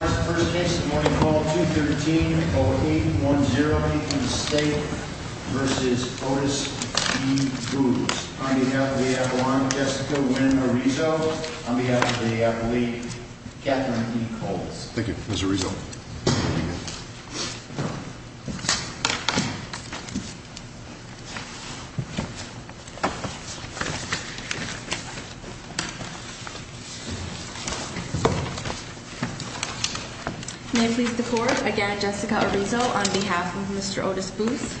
First case of the morning, call 213-0810, Lincoln State v. Otis E. Boose. On behalf of the AFL-I, I'm Jessica Lynn Arizo. On behalf of the AFL-E, Kathryn E. Coles. Thank you, Mr. Arizo. May it please the Court, again Jessica Arizo on behalf of Mr. Otis Boose.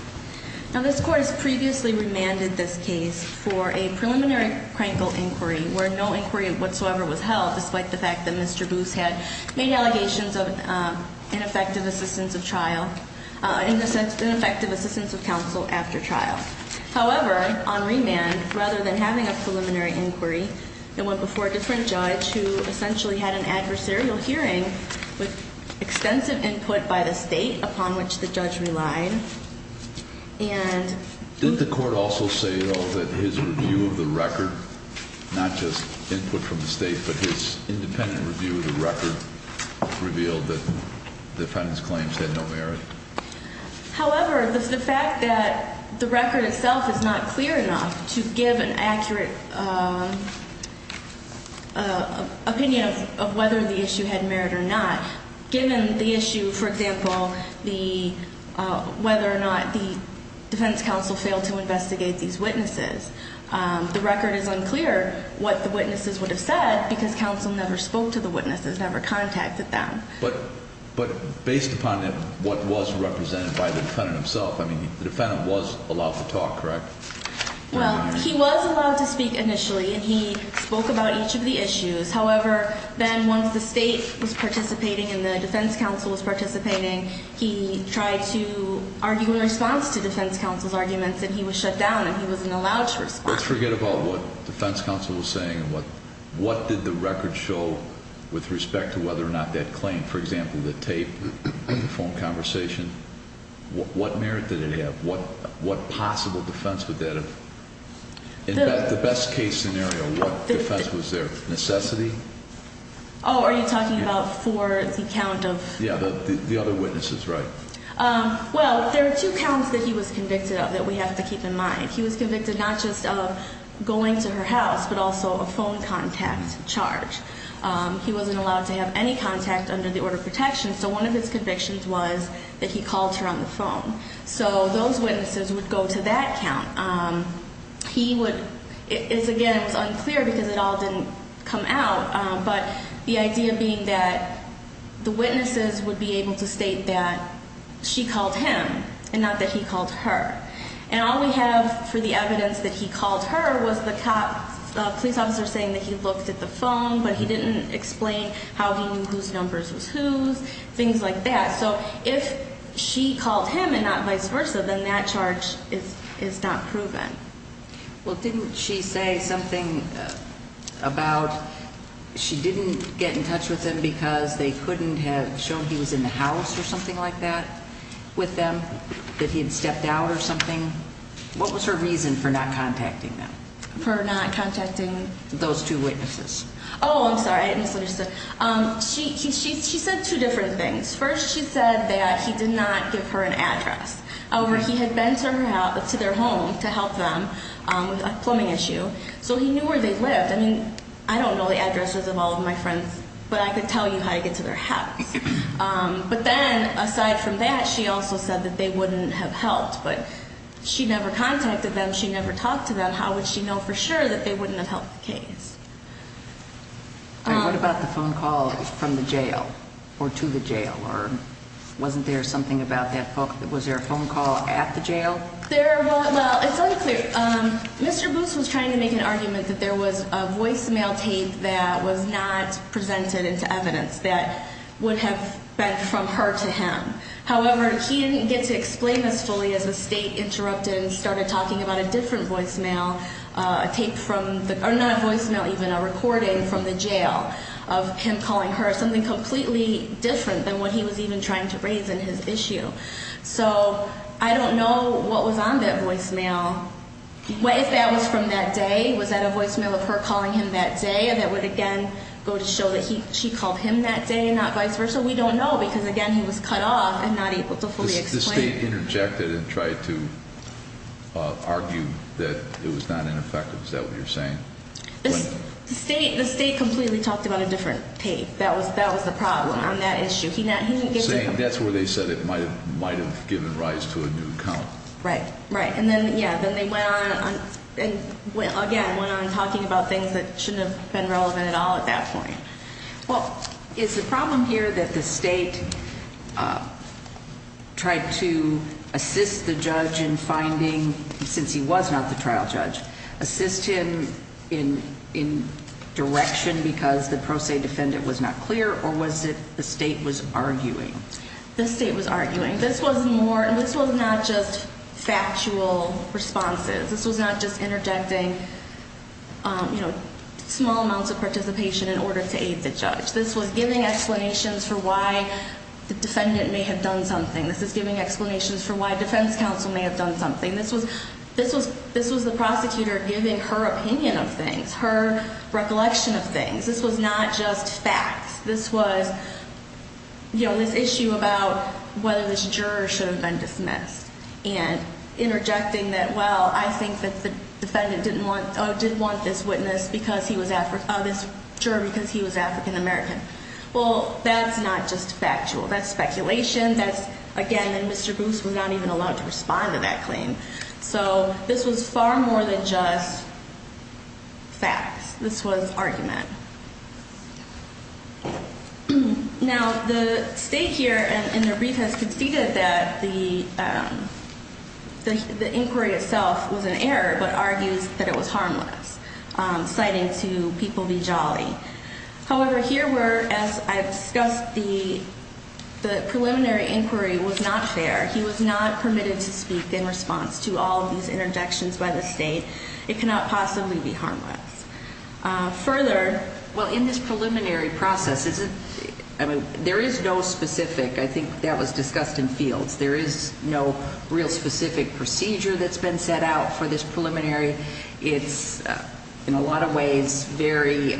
Now this Court has previously remanded this case for a preliminary crankle inquiry, where no inquiry whatsoever was held, despite the fact that Mr. Boose had made allegations of ineffective assistance of trial, ineffective assistance of counsel after trial. However, on remand, rather than having a preliminary inquiry, it went before a different judge, who essentially had an adversarial hearing, with extensive input by the State, upon which the judge relied. Did the Court also say, though, that his review of the record, not just input from the State, but his independent review of the record, revealed that the defendant's claims had no merit? However, the fact that the record itself is not clear enough to give an accurate opinion of whether the issue had merit or not, given the issue, for example, whether or not the defense counsel failed to investigate these witnesses, the record is unclear what the witnesses would have said, because counsel never spoke to the witnesses, never contacted them. But based upon what was represented by the defendant himself, I mean, the defendant was allowed to talk, correct? Well, he was allowed to speak initially, and he spoke about each of the issues. However, then once the State was participating and the defense counsel was participating, he tried to argue in response to defense counsel's arguments, and he was shut down, and he wasn't allowed to respond. Let's forget about what defense counsel was saying and what did the record show with respect to whether or not that claim, for example, the tape, the phone conversation, what merit did it have? What possible defense would that have? In the best-case scenario, what defense was there? Necessity? Oh, are you talking about for the count of? Yeah, the other witnesses, right. Well, there are two counts that he was convicted of that we have to keep in mind. He was convicted not just of going to her house, but also a phone contact charge. He wasn't allowed to have any contact under the order of protection, so one of his convictions was that he called her on the phone. So those witnesses would go to that count. He would – it's, again, it was unclear because it all didn't come out, but the idea being that the witnesses would be able to state that she called him and not that he called her. And all we have for the evidence that he called her was the police officer saying that he looked at the phone, but he didn't explain how he knew whose numbers was whose, things like that. So if she called him and not vice versa, then that charge is not proven. Well, didn't she say something about she didn't get in touch with him because they couldn't have shown he was in the house or something like that with them, that he had stepped out or something? What was her reason for not contacting them? For not contacting? Those two witnesses. Oh, I'm sorry. She said two different things. First, she said that he did not give her an address. However, he had been to their home to help them with a plumbing issue, so he knew where they lived. I mean, I don't know the addresses of all of my friends, but I could tell you how to get to their house. But then, aside from that, she also said that they wouldn't have helped. But she never contacted them. She never talked to them. How would she know for sure that they wouldn't have helped the case? And what about the phone call from the jail or to the jail? Or wasn't there something about that phone call? Was there a phone call at the jail? Well, it's unclear. Mr. Booth was trying to make an argument that there was a voicemail tape that was not presented into evidence that would have been from her to him. However, he didn't get to explain this fully as the state interrupted and started talking about a different voicemail, a tape from the ñ or not voicemail even, a recording from the jail of him calling her, something completely different than what he was even trying to raise in his issue. So I don't know what was on that voicemail. What if that was from that day? Was that a voicemail of her calling him that day that would, again, go to show that she called him that day and not vice versa? We don't know because, again, he was cut off and not able to fully explain. The state interjected and tried to argue that it was not ineffective. Is that what you're saying? The state completely talked about a different tape. That was the problem on that issue. That's where they said it might have given rise to a new account. Right, right. And then, yeah, then they went on and, again, went on talking about things that shouldn't have been relevant at all at that point. Well, is the problem here that the state tried to assist the judge in finding, since he was not the trial judge, assist him in direction because the pro se defendant was not clear, or was it the state was arguing? The state was arguing. This was not just factual responses. This was not just interjecting small amounts of participation in order to aid the judge. This was giving explanations for why the defendant may have done something. This was giving explanations for why defense counsel may have done something. This was the prosecutor giving her opinion of things, her recollection of things. This was not just facts. This was, you know, this issue about whether this juror should have been dismissed and interjecting that, well, I think that the defendant did want this juror because he was African American. Well, that's not just factual. That's speculation. That's, again, and Mr. Booth was not even allowed to respond to that claim. So this was far more than just facts. This was argument. Now, the state here in their brief has conceded that the inquiry itself was an error but argues that it was harmless, citing to people be jolly. However, here we're, as I discussed, the preliminary inquiry was not fair. He was not permitted to speak in response to all of these interjections by the state. It cannot possibly be harmless. Further, well, in this preliminary process, there is no specific, I think that was discussed in fields, there is no real specific procedure that's been set out for this preliminary. It's, in a lot of ways, very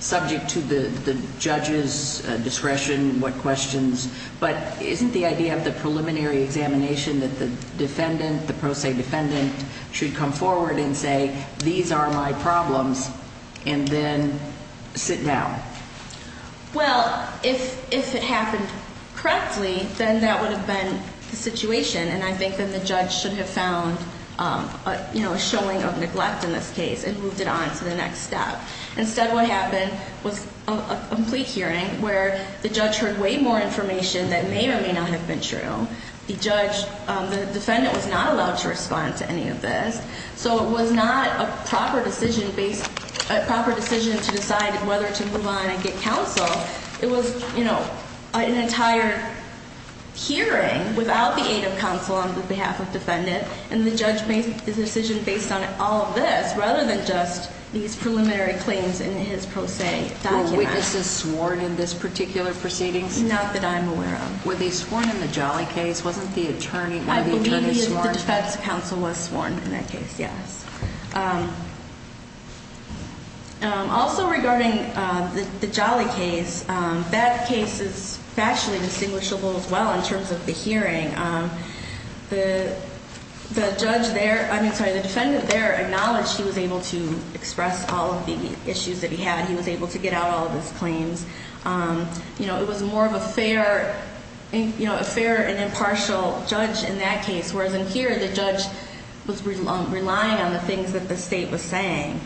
subject to the judge's discretion, what questions, but isn't the idea of the preliminary examination that the defendant, the pro se defendant, should come forward and say, these are my problems, and then sit down? Well, if it happened correctly, then that would have been the situation, and I think that the judge should have found a showing of neglect in this case and moved it on to the next step. Instead, what happened was a complete hearing where the judge heard way more information that may or may not have been true. The judge, the defendant was not allowed to respond to any of this, so it was not a proper decision to decide whether to move on and get counsel. It was an entire hearing without the aid of counsel on behalf of defendant, and the judge made the decision based on all of this rather than just these preliminary claims in his pro se document. Were witnesses sworn in this particular proceedings? Not that I'm aware of. Were they sworn in the Jolly case? Wasn't the attorney sworn? I believe the defense counsel was sworn in that case, yes. Also regarding the Jolly case, that case is factually distinguishable as well in terms of the hearing. The judge there, I mean, sorry, the defendant there acknowledged he was able to express all of the issues that he had. He was able to get out all of his claims. It was more of a fair and impartial judge in that case, whereas in here the judge was relying on the things that the state was saying.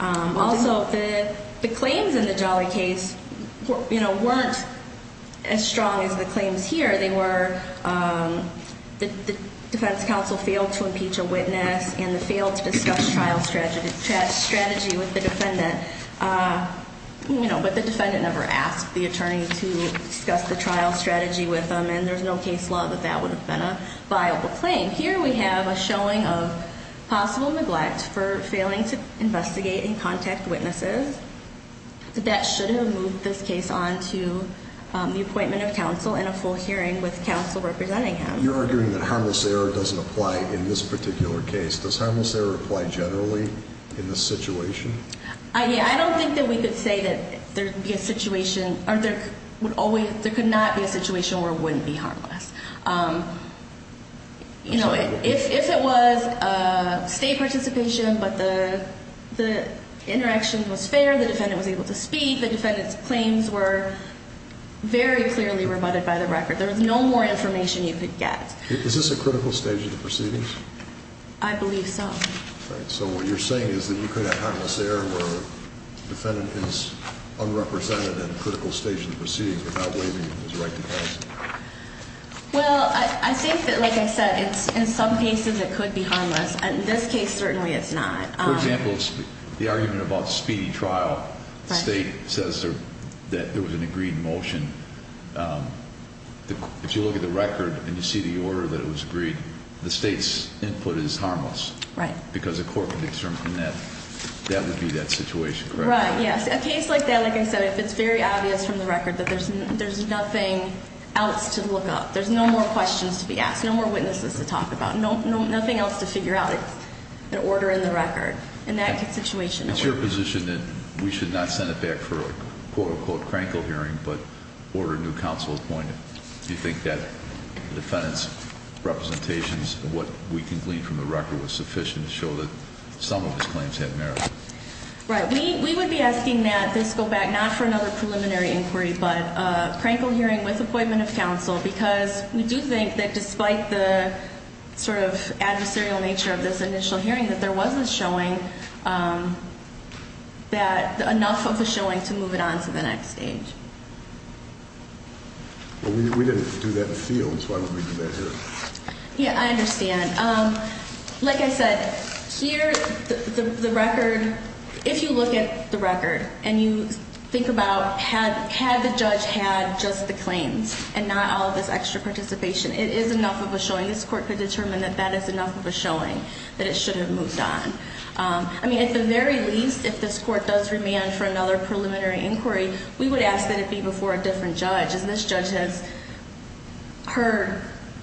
Also, the claims in the Jolly case weren't as strong as the claims here. They were the defense counsel failed to impeach a witness and they failed to discuss trial strategy with the defendant, but the defendant never asked the attorney to discuss the trial strategy with them, and there's no case law that that would have been a viable claim. Here we have a showing of possible neglect for failing to investigate and contact witnesses. That should have moved this case on to the appointment of counsel and a full hearing with counsel representing him. You're arguing that harmless error doesn't apply in this particular case. Does harmless error apply generally in this situation? I don't think that we could say that there would be a situation or there could not be a situation where it wouldn't be harmless. If it was state participation but the interaction was fair, the defendant was able to speak, the defendant's claims were very clearly rebutted by the record. There was no more information you could get. Is this a critical stage of the proceedings? I believe so. So what you're saying is that you could have harmless error where the defendant is unrepresented in a critical stage of the proceedings without waiving his right to counsel. Well, I think that, like I said, in some cases it could be harmless. In this case, certainly it's not. For example, the argument about speedy trial, the state says that there was an agreed motion. If you look at the record and you see the order that it was agreed, the state's input is harmless. Right. Because a court could determine that that would be that situation, correct? Right, yes. A case like that, like I said, if it's very obvious from the record that there's nothing else to look up, there's no more questions to be asked, no more witnesses to talk about, nothing else to figure out, it's an order in the record. In that situation, no. It's your position that we should not send it back for a quote-unquote crankle hearing but order new counsel appointed. Do you think that the defendant's representations of what we can glean from the record was sufficient to show that some of his claims had merit? Right. We would be asking that this go back not for another preliminary inquiry but a crankle hearing with appointment of counsel because we do think that despite the sort of adversarial nature of this initial hearing that there was a showing that enough of a showing to move it on to the next stage. Well, we didn't do that in the field, so why would we do that here? Yeah, I understand. Like I said, here the record, if you look at the record and you think about had the judge had just the claims and not all of this extra participation, it is enough of a showing. This court could determine that that is enough of a showing that it should have moved on. I mean, at the very least, if this court does remand for another preliminary inquiry, we would ask that it be before a different judge. And this judge has heard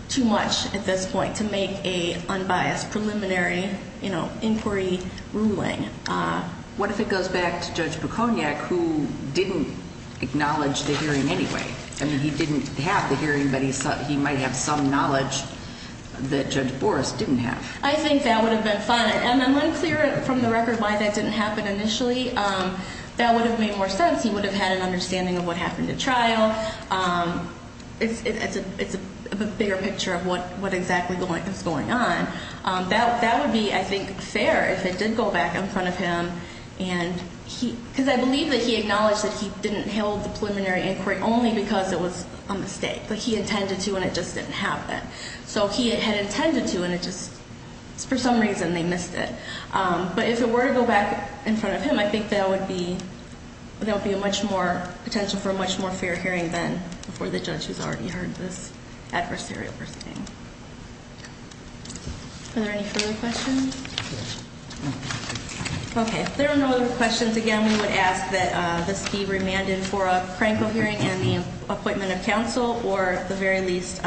too much at this point to make a unbiased preliminary inquiry ruling. What if it goes back to Judge Bukoniak who didn't acknowledge the hearing anyway? I mean, he didn't have the hearing, but he might have some knowledge that Judge Boris didn't have. I think that would have been fine. And I'm unclear from the record why that didn't happen initially. That would have made more sense. He would have had an understanding of what happened at trial. It's a bigger picture of what exactly is going on. That would be, I think, fair if it did go back in front of him. Because I believe that he acknowledged that he didn't hold the preliminary inquiry only because it was a mistake. But he intended to, and it just didn't happen. So he had intended to, and for some reason they missed it. But if it were to go back in front of him, I think there would be a much more potential for a much more fair hearing than before the judge who's already heard this adversarial proceeding. Are there any further questions? Okay. If there are no other questions, again, we would ask that this be remanded for a Franco hearing and the appointment of counsel or, at the very least,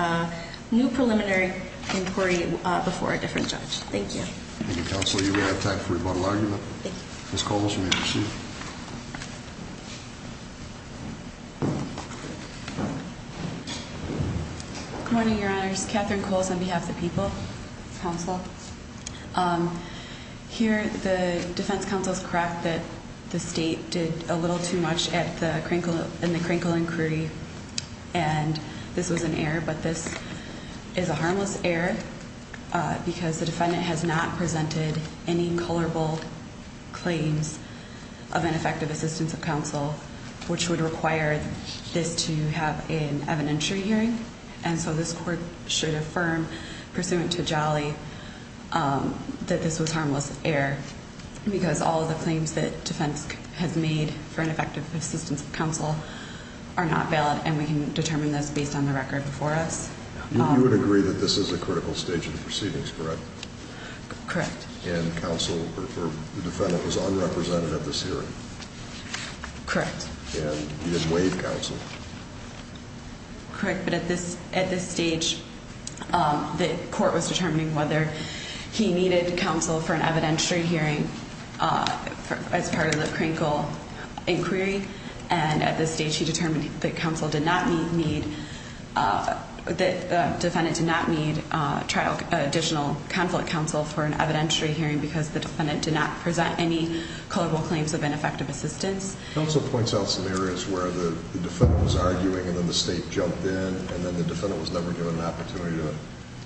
new preliminary inquiry before a different judge. Thank you. Thank you, counsel. You may have time for rebuttal argument. Thank you. Ms. Coles, you may proceed. Good morning, Your Honors. Catherine Coles on behalf of the people, counsel. Here the defense counsel's correct that the state did a little too much in the Krinkle inquiry, and this was an error. But this is a harmless error because the defendant has not presented any colorable claims of ineffective assistance of counsel, which would require this to have an evidentiary hearing. And so this court should affirm, pursuant to Jolly, that this was harmless error because all of the claims that defense has made for ineffective assistance of counsel are not valid, and we can determine this based on the record before us. You would agree that this is a critical stage of the proceedings, correct? Correct. And counsel or the defendant was unrepresentative this hearing? Correct. And he did waive counsel? Correct. But at this stage, the court was determining whether he needed counsel for an evidentiary hearing as part of the Krinkle inquiry, and at this stage he determined that the defendant did not need additional conflict counsel for an evidentiary hearing because the defendant did not present any colorable claims of ineffective assistance. Counsel points out some areas where the defendant was arguing and then the state jumped in, and then the defendant was never given an opportunity to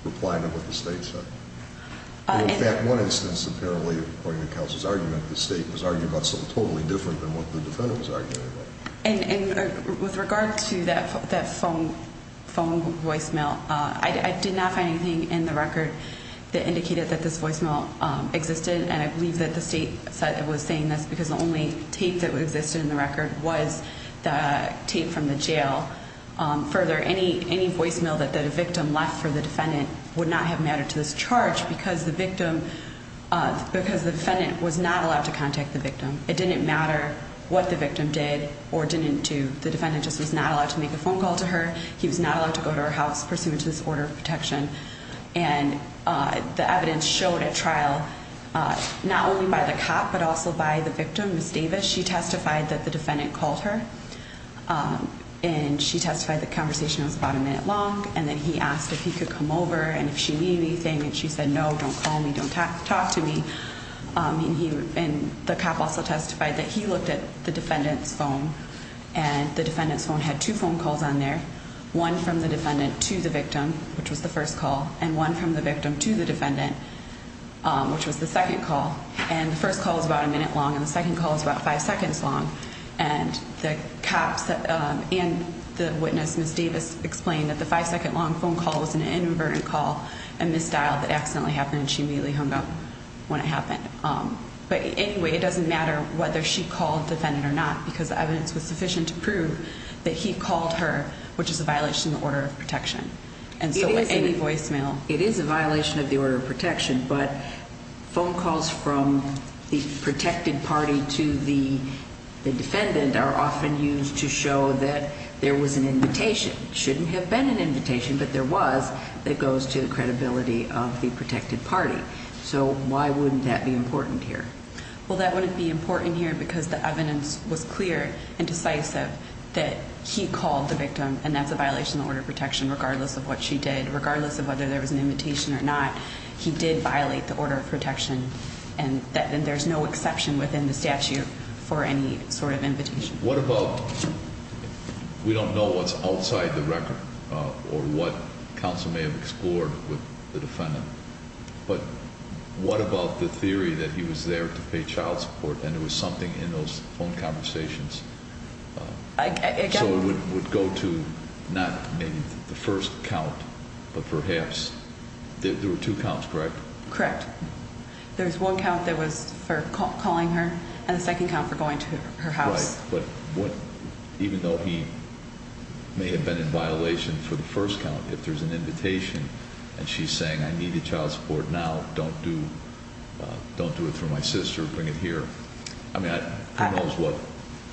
reply to what the state said. In fact, one instance apparently, according to counsel's argument, the state was arguing about something totally different than what the defendant was arguing about. And with regard to that phone voicemail, I did not find anything in the record that indicated that this voicemail existed, and I believe that the state was saying this because the only tape that existed in the record was the tape from the jail. Further, any voicemail that the victim left for the defendant would not have mattered to this charge because the defendant was not allowed to contact the victim. It didn't matter what the victim did or didn't do. The defendant just was not allowed to make a phone call to her. He was not allowed to go to her house pursuant to this order of protection. And the evidence showed at trial not only by the cop but also by the victim, Ms. Davis. She testified that the defendant called her, and she testified the conversation was about a minute long, and then he asked if he could come over and if she needed anything. And she said, no, don't call me, don't talk to me. And the cop also testified that he looked at the defendant's phone, and the defendant's phone had two phone calls on there, one from the defendant to the victim, which was the first call, and one from the victim to the defendant, which was the second call. And the first call was about a minute long, and the second call was about five seconds long. And the cops and the witness, Ms. Davis, explained that the five-second long phone call was an inadvertent call and misdialed that accidentally happened, and she immediately hung up when it happened. But anyway, it doesn't matter whether she called the defendant or not because the evidence was sufficient to prove that he called her, which is a violation of the order of protection. And so any voicemail. It is a violation of the order of protection, but phone calls from the protected party to the defendant are often used to show that there was an invitation. It shouldn't have been an invitation, but there was, that goes to the credibility of the protected party. So why wouldn't that be important here? Well, that wouldn't be important here because the evidence was clear and decisive that he called the victim, and that's a violation of the order of protection regardless of what she did, regardless of whether there was an invitation or not. He did violate the order of protection, and there's no exception within the statute for any sort of invitation. What about, we don't know what's outside the record or what counsel may have explored with the defendant, but what about the theory that he was there to pay child support and it was something in those phone conversations? So it would go to not maybe the first count, but perhaps, there were two counts, correct? Correct. There's one count that was for calling her and the second count for going to her house. Right, but even though he may have been in violation for the first count, if there's an invitation and she's saying I need the child support now, don't do it through my sister, bring it here. I mean, who knows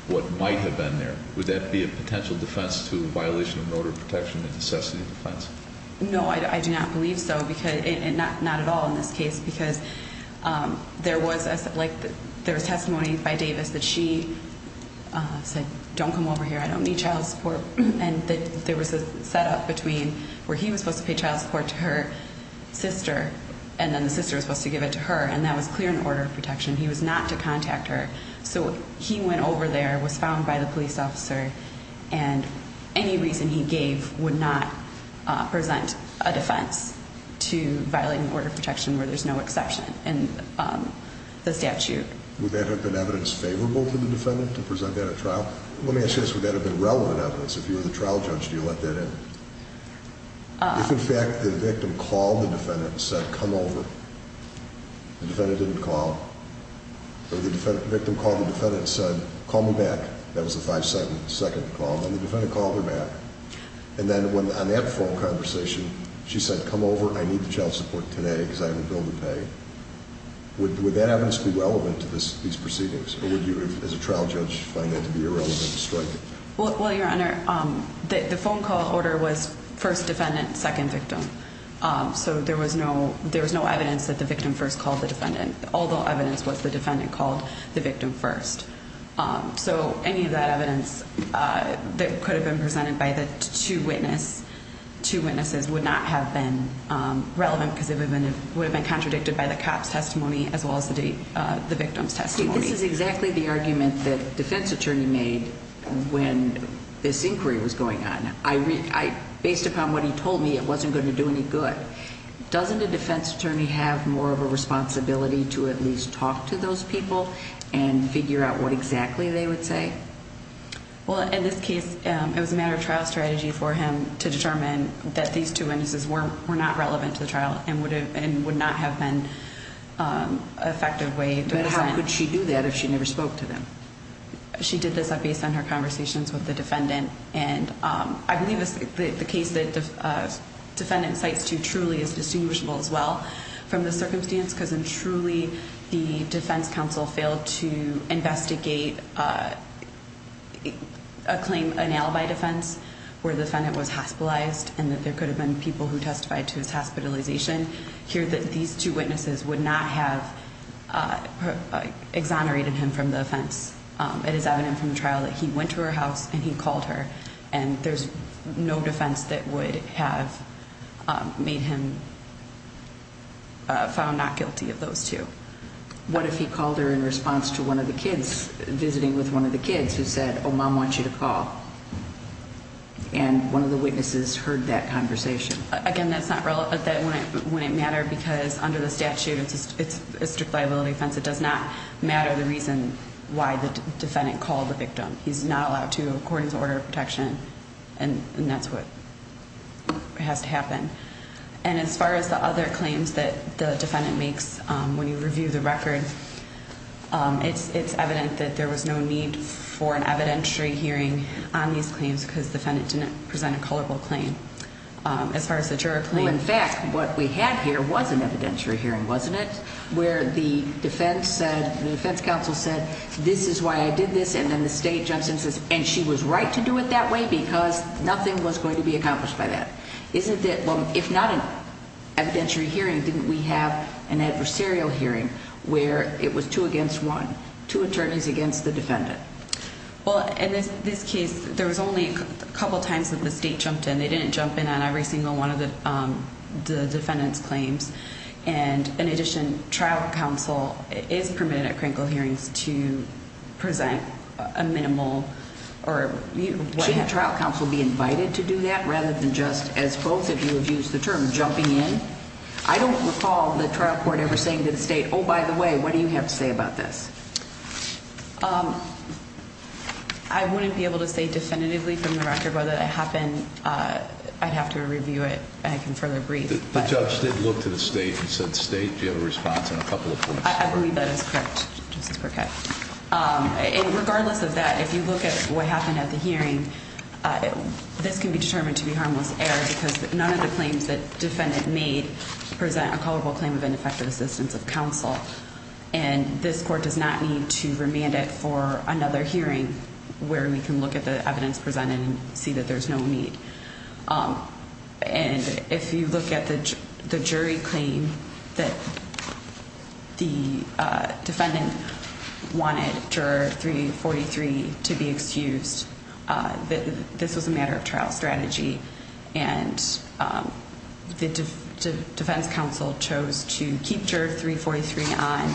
what might have been there. Would that be a potential defense to violation of order of protection and necessity of defense? No, I do not believe so, not at all in this case, because there was testimony by Davis that she said don't come over here, I don't need child support, and there was a setup between where he was supposed to pay child support to her sister and then the sister was supposed to give it to her, and that was clear in order of protection. He was not to contact her, so he went over there, was found by the police officer, and any reason he gave would not present a defense to violating order of protection where there's no exception in the statute. Would that have been evidence favorable to the defendant to present that at trial? Let me ask you this, would that have been relevant evidence? If you were the trial judge, do you let that in? If, in fact, the victim called the defendant and said come over, the defendant didn't call, or the victim called the defendant and said call me back, that was the 5-second call, and the defendant called her back, and then on that phone conversation she said come over, I need the child support today because I have a bill to pay, would that evidence be relevant to these proceedings, or would you as a trial judge find that to be irrelevant to striking? Well, Your Honor, the phone call order was first defendant, second victim, so there was no evidence that the victim first called the defendant, although evidence was the defendant called the victim first. So any of that evidence that could have been presented by the two witnesses would not have been relevant because it would have been contradicted by the cop's testimony as well as the victim's testimony. This is exactly the argument that the defense attorney made when this inquiry was going on. Based upon what he told me, it wasn't going to do any good. Doesn't a defense attorney have more of a responsibility to at least talk to those people and figure out what exactly they would say? Well, in this case, it was a matter of trial strategy for him to determine that these two witnesses were not relevant to the trial and would not have been an effective way to present. But how could she do that if she never spoke to them? She did this based on her conversations with the defendant, and I believe the case that the defendant cites too truly is distinguishable as well from the circumstance because truly the defense counsel failed to investigate a claim annulled by defense where the defendant was hospitalized and that there could have been people who testified to his hospitalization. I can hear that these two witnesses would not have exonerated him from the offense. It is evident from the trial that he went to her house and he called her, and there's no defense that would have made him found not guilty of those two. What if he called her in response to one of the kids visiting with one of the kids who said, oh, Mom wants you to call, and one of the witnesses heard that conversation? Again, that wouldn't matter because under the statute it's a strict liability offense. It does not matter the reason why the defendant called the victim. He's not allowed to according to order of protection, and that's what has to happen. And as far as the other claims that the defendant makes when you review the record, it's evident that there was no need for an evidentiary hearing on these claims because the defendant didn't present a culpable claim. Well, in fact, what we had here was an evidentiary hearing, wasn't it, where the defense said, the defense counsel said, this is why I did this, and then the state jumps in and says, and she was right to do it that way because nothing was going to be accomplished by that. If not an evidentiary hearing, didn't we have an adversarial hearing where it was two against one, two attorneys against the defendant? Well, in this case, there was only a couple times that the state jumped in. They didn't jump in on every single one of the defendant's claims. And in addition, trial counsel is permitted at Krinkle hearings to present a minimal. Shouldn't trial counsel be invited to do that rather than just, as both of you have used the term, jumping in? I don't recall the trial court ever saying to the state, oh, by the way, what do you have to say about this? I wouldn't be able to say definitively from the record whether it happened. I'd have to review it, and I can further brief. The judge did look to the state and said, state, do you have a response in a couple of points? I believe that is correct, Justice Burkett. And regardless of that, if you look at what happened at the hearing, this can be determined to be harmless error because none of the claims that defendant made present a culpable claim of ineffective assistance of counsel. And this court does not need to remand it for another hearing where we can look at the evidence presented and see that there's no need. And if you look at the jury claim that the defendant wanted juror 343 to be excused, this was a matter of trial strategy. And the defense counsel chose to keep juror 343 on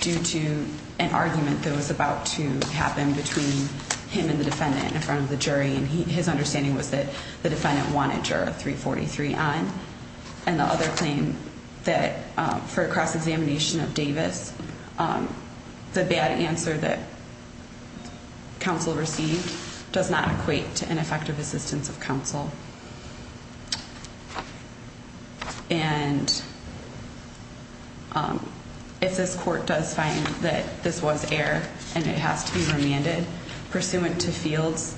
due to an argument that was about to happen between him and the defendant in front of the jury. And his understanding was that the defendant wanted juror 343 on. And the other claim that for a cross-examination of Davis, the bad answer that counsel received does not equate to ineffective assistance of counsel. And if this court does find that this was error and it has to be remanded pursuant to fields,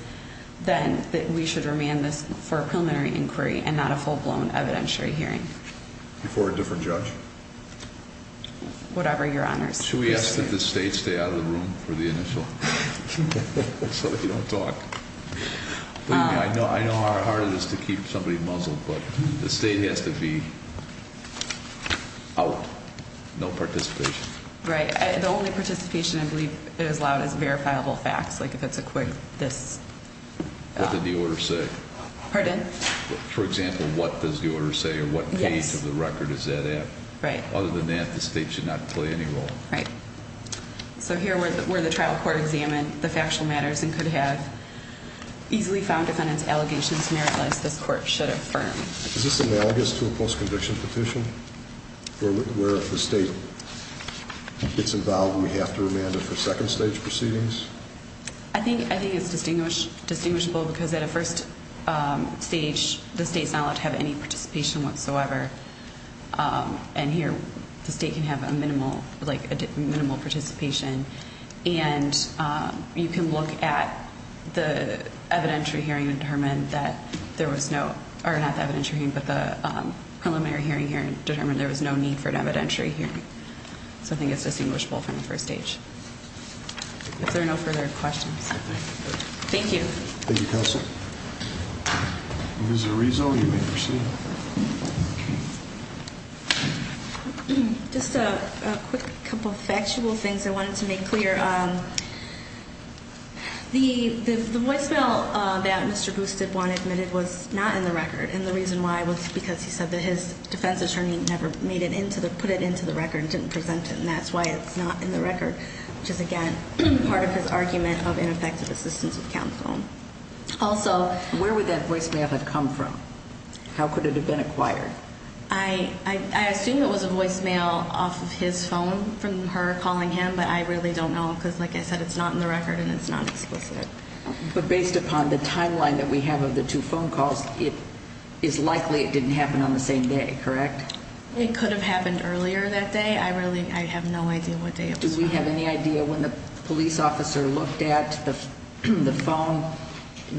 then we should remand this for a preliminary inquiry and not a full-blown evidentiary hearing. Before a different judge? Whatever your honors. Should we ask that the state stay out of the room for the initial, so they don't talk? I know how hard it is to keep somebody muzzled, but the state has to be out. No participation. Right. The only participation I believe is allowed is verifiable facts, like if it's a quick, this. What did the order say? Pardon? For example, what does the order say or what page of the record is that at? Right. Other than that, the state should not play any role. Right. So here, where the trial court examined the factual matters and could have easily found defendant's allegations meritless, this court should affirm. Is this analogous to a post-conviction petition, where if the state gets involved, we have to remand it for second-stage proceedings? I think it's distinguishable because at a first stage, the state's not allowed to have any participation whatsoever. And here, the state can have a minimal participation. And you can look at the preliminary hearing and determine there was no need for an evidentiary hearing. So I think it's distinguishable from the first stage. If there are no further questions. Thank you. Thank you, Counsel. Ms. Arizo, you may proceed. Just a quick couple of factual things I wanted to make clear. The voicemail that Mr. Bustep won't admit it was not in the record. And the reason why was because he said that his defense attorney never made it into the, put it into the record and didn't present it. And that's why it's not in the record, which is, again, part of his argument of ineffective assistance with counsel. Where would that voicemail have come from? How could it have been acquired? I assume it was a voicemail off of his phone from her calling him. But I really don't know because, like I said, it's not in the record and it's not explicit. But based upon the timeline that we have of the two phone calls, it is likely it didn't happen on the same day, correct? It could have happened earlier that day. I really, I have no idea what day it was from. Do we have any idea when the police officer looked at the phone,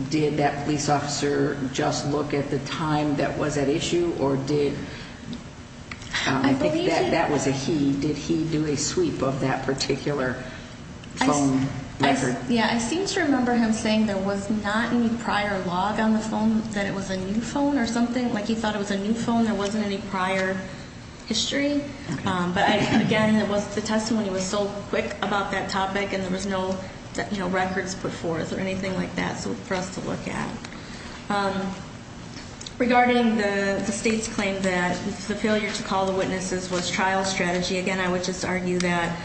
did that police officer just look at the time that was at issue or did, I think that was a he. Did he do a sweep of that particular phone record? Yeah, I seem to remember him saying there was not any prior log on the phone, that it was a new phone or something. Like he thought it was a new phone, there wasn't any prior history. But again, the testimony was so quick about that topic and there was no records put forth or anything like that for us to look at. Regarding the state's claim that the failure to call the witnesses was trial strategy, again, I would just argue that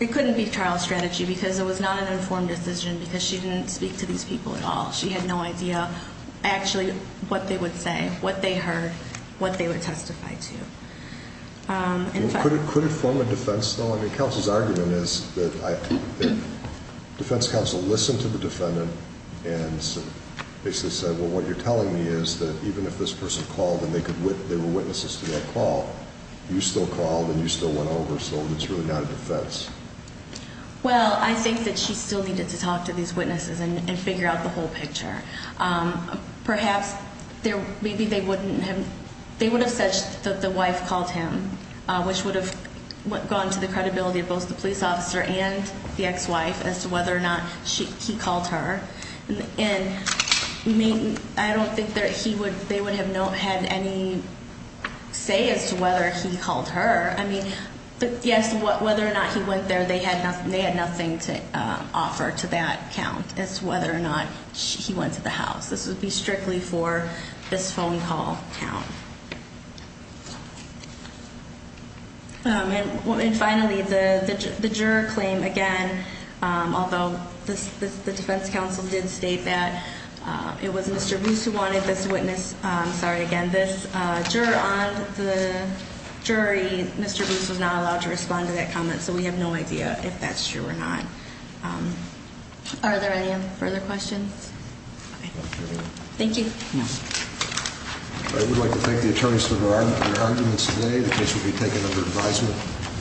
it couldn't be trial strategy because it was not an informed decision because she didn't speak to these people at all. She had no idea actually what they would say, what they heard, what they would testify to. Could it form a defense though? I mean, counsel's argument is that defense counsel listened to the defendant and basically said, well, what you're telling me is that even if this person called and they were witnesses to that call, you still called and you still went over, so it's really not a defense. Well, I think that she still needed to talk to these witnesses and figure out the whole picture. Perhaps maybe they would have said that the wife called him, which would have gone to the credibility of both the police officer and the ex-wife as to whether or not he called her. And I don't think that they would have had any say as to whether he called her. I mean, yes, whether or not he went there, they had nothing to offer to that count as to whether or not he went to the house. This would be strictly for this phone call count. And finally, the juror claim, again, although the defense counsel did state that it was Mr. Booth who wanted this witness, I'm sorry, again, this juror on the jury, Mr. Booth was not allowed to respond to that comment, so we have no idea if that's true or not. Are there any further questions? Okay. Thank you. No. I would like to thank the attorneys for their arguments today. The case will be taken under advisement.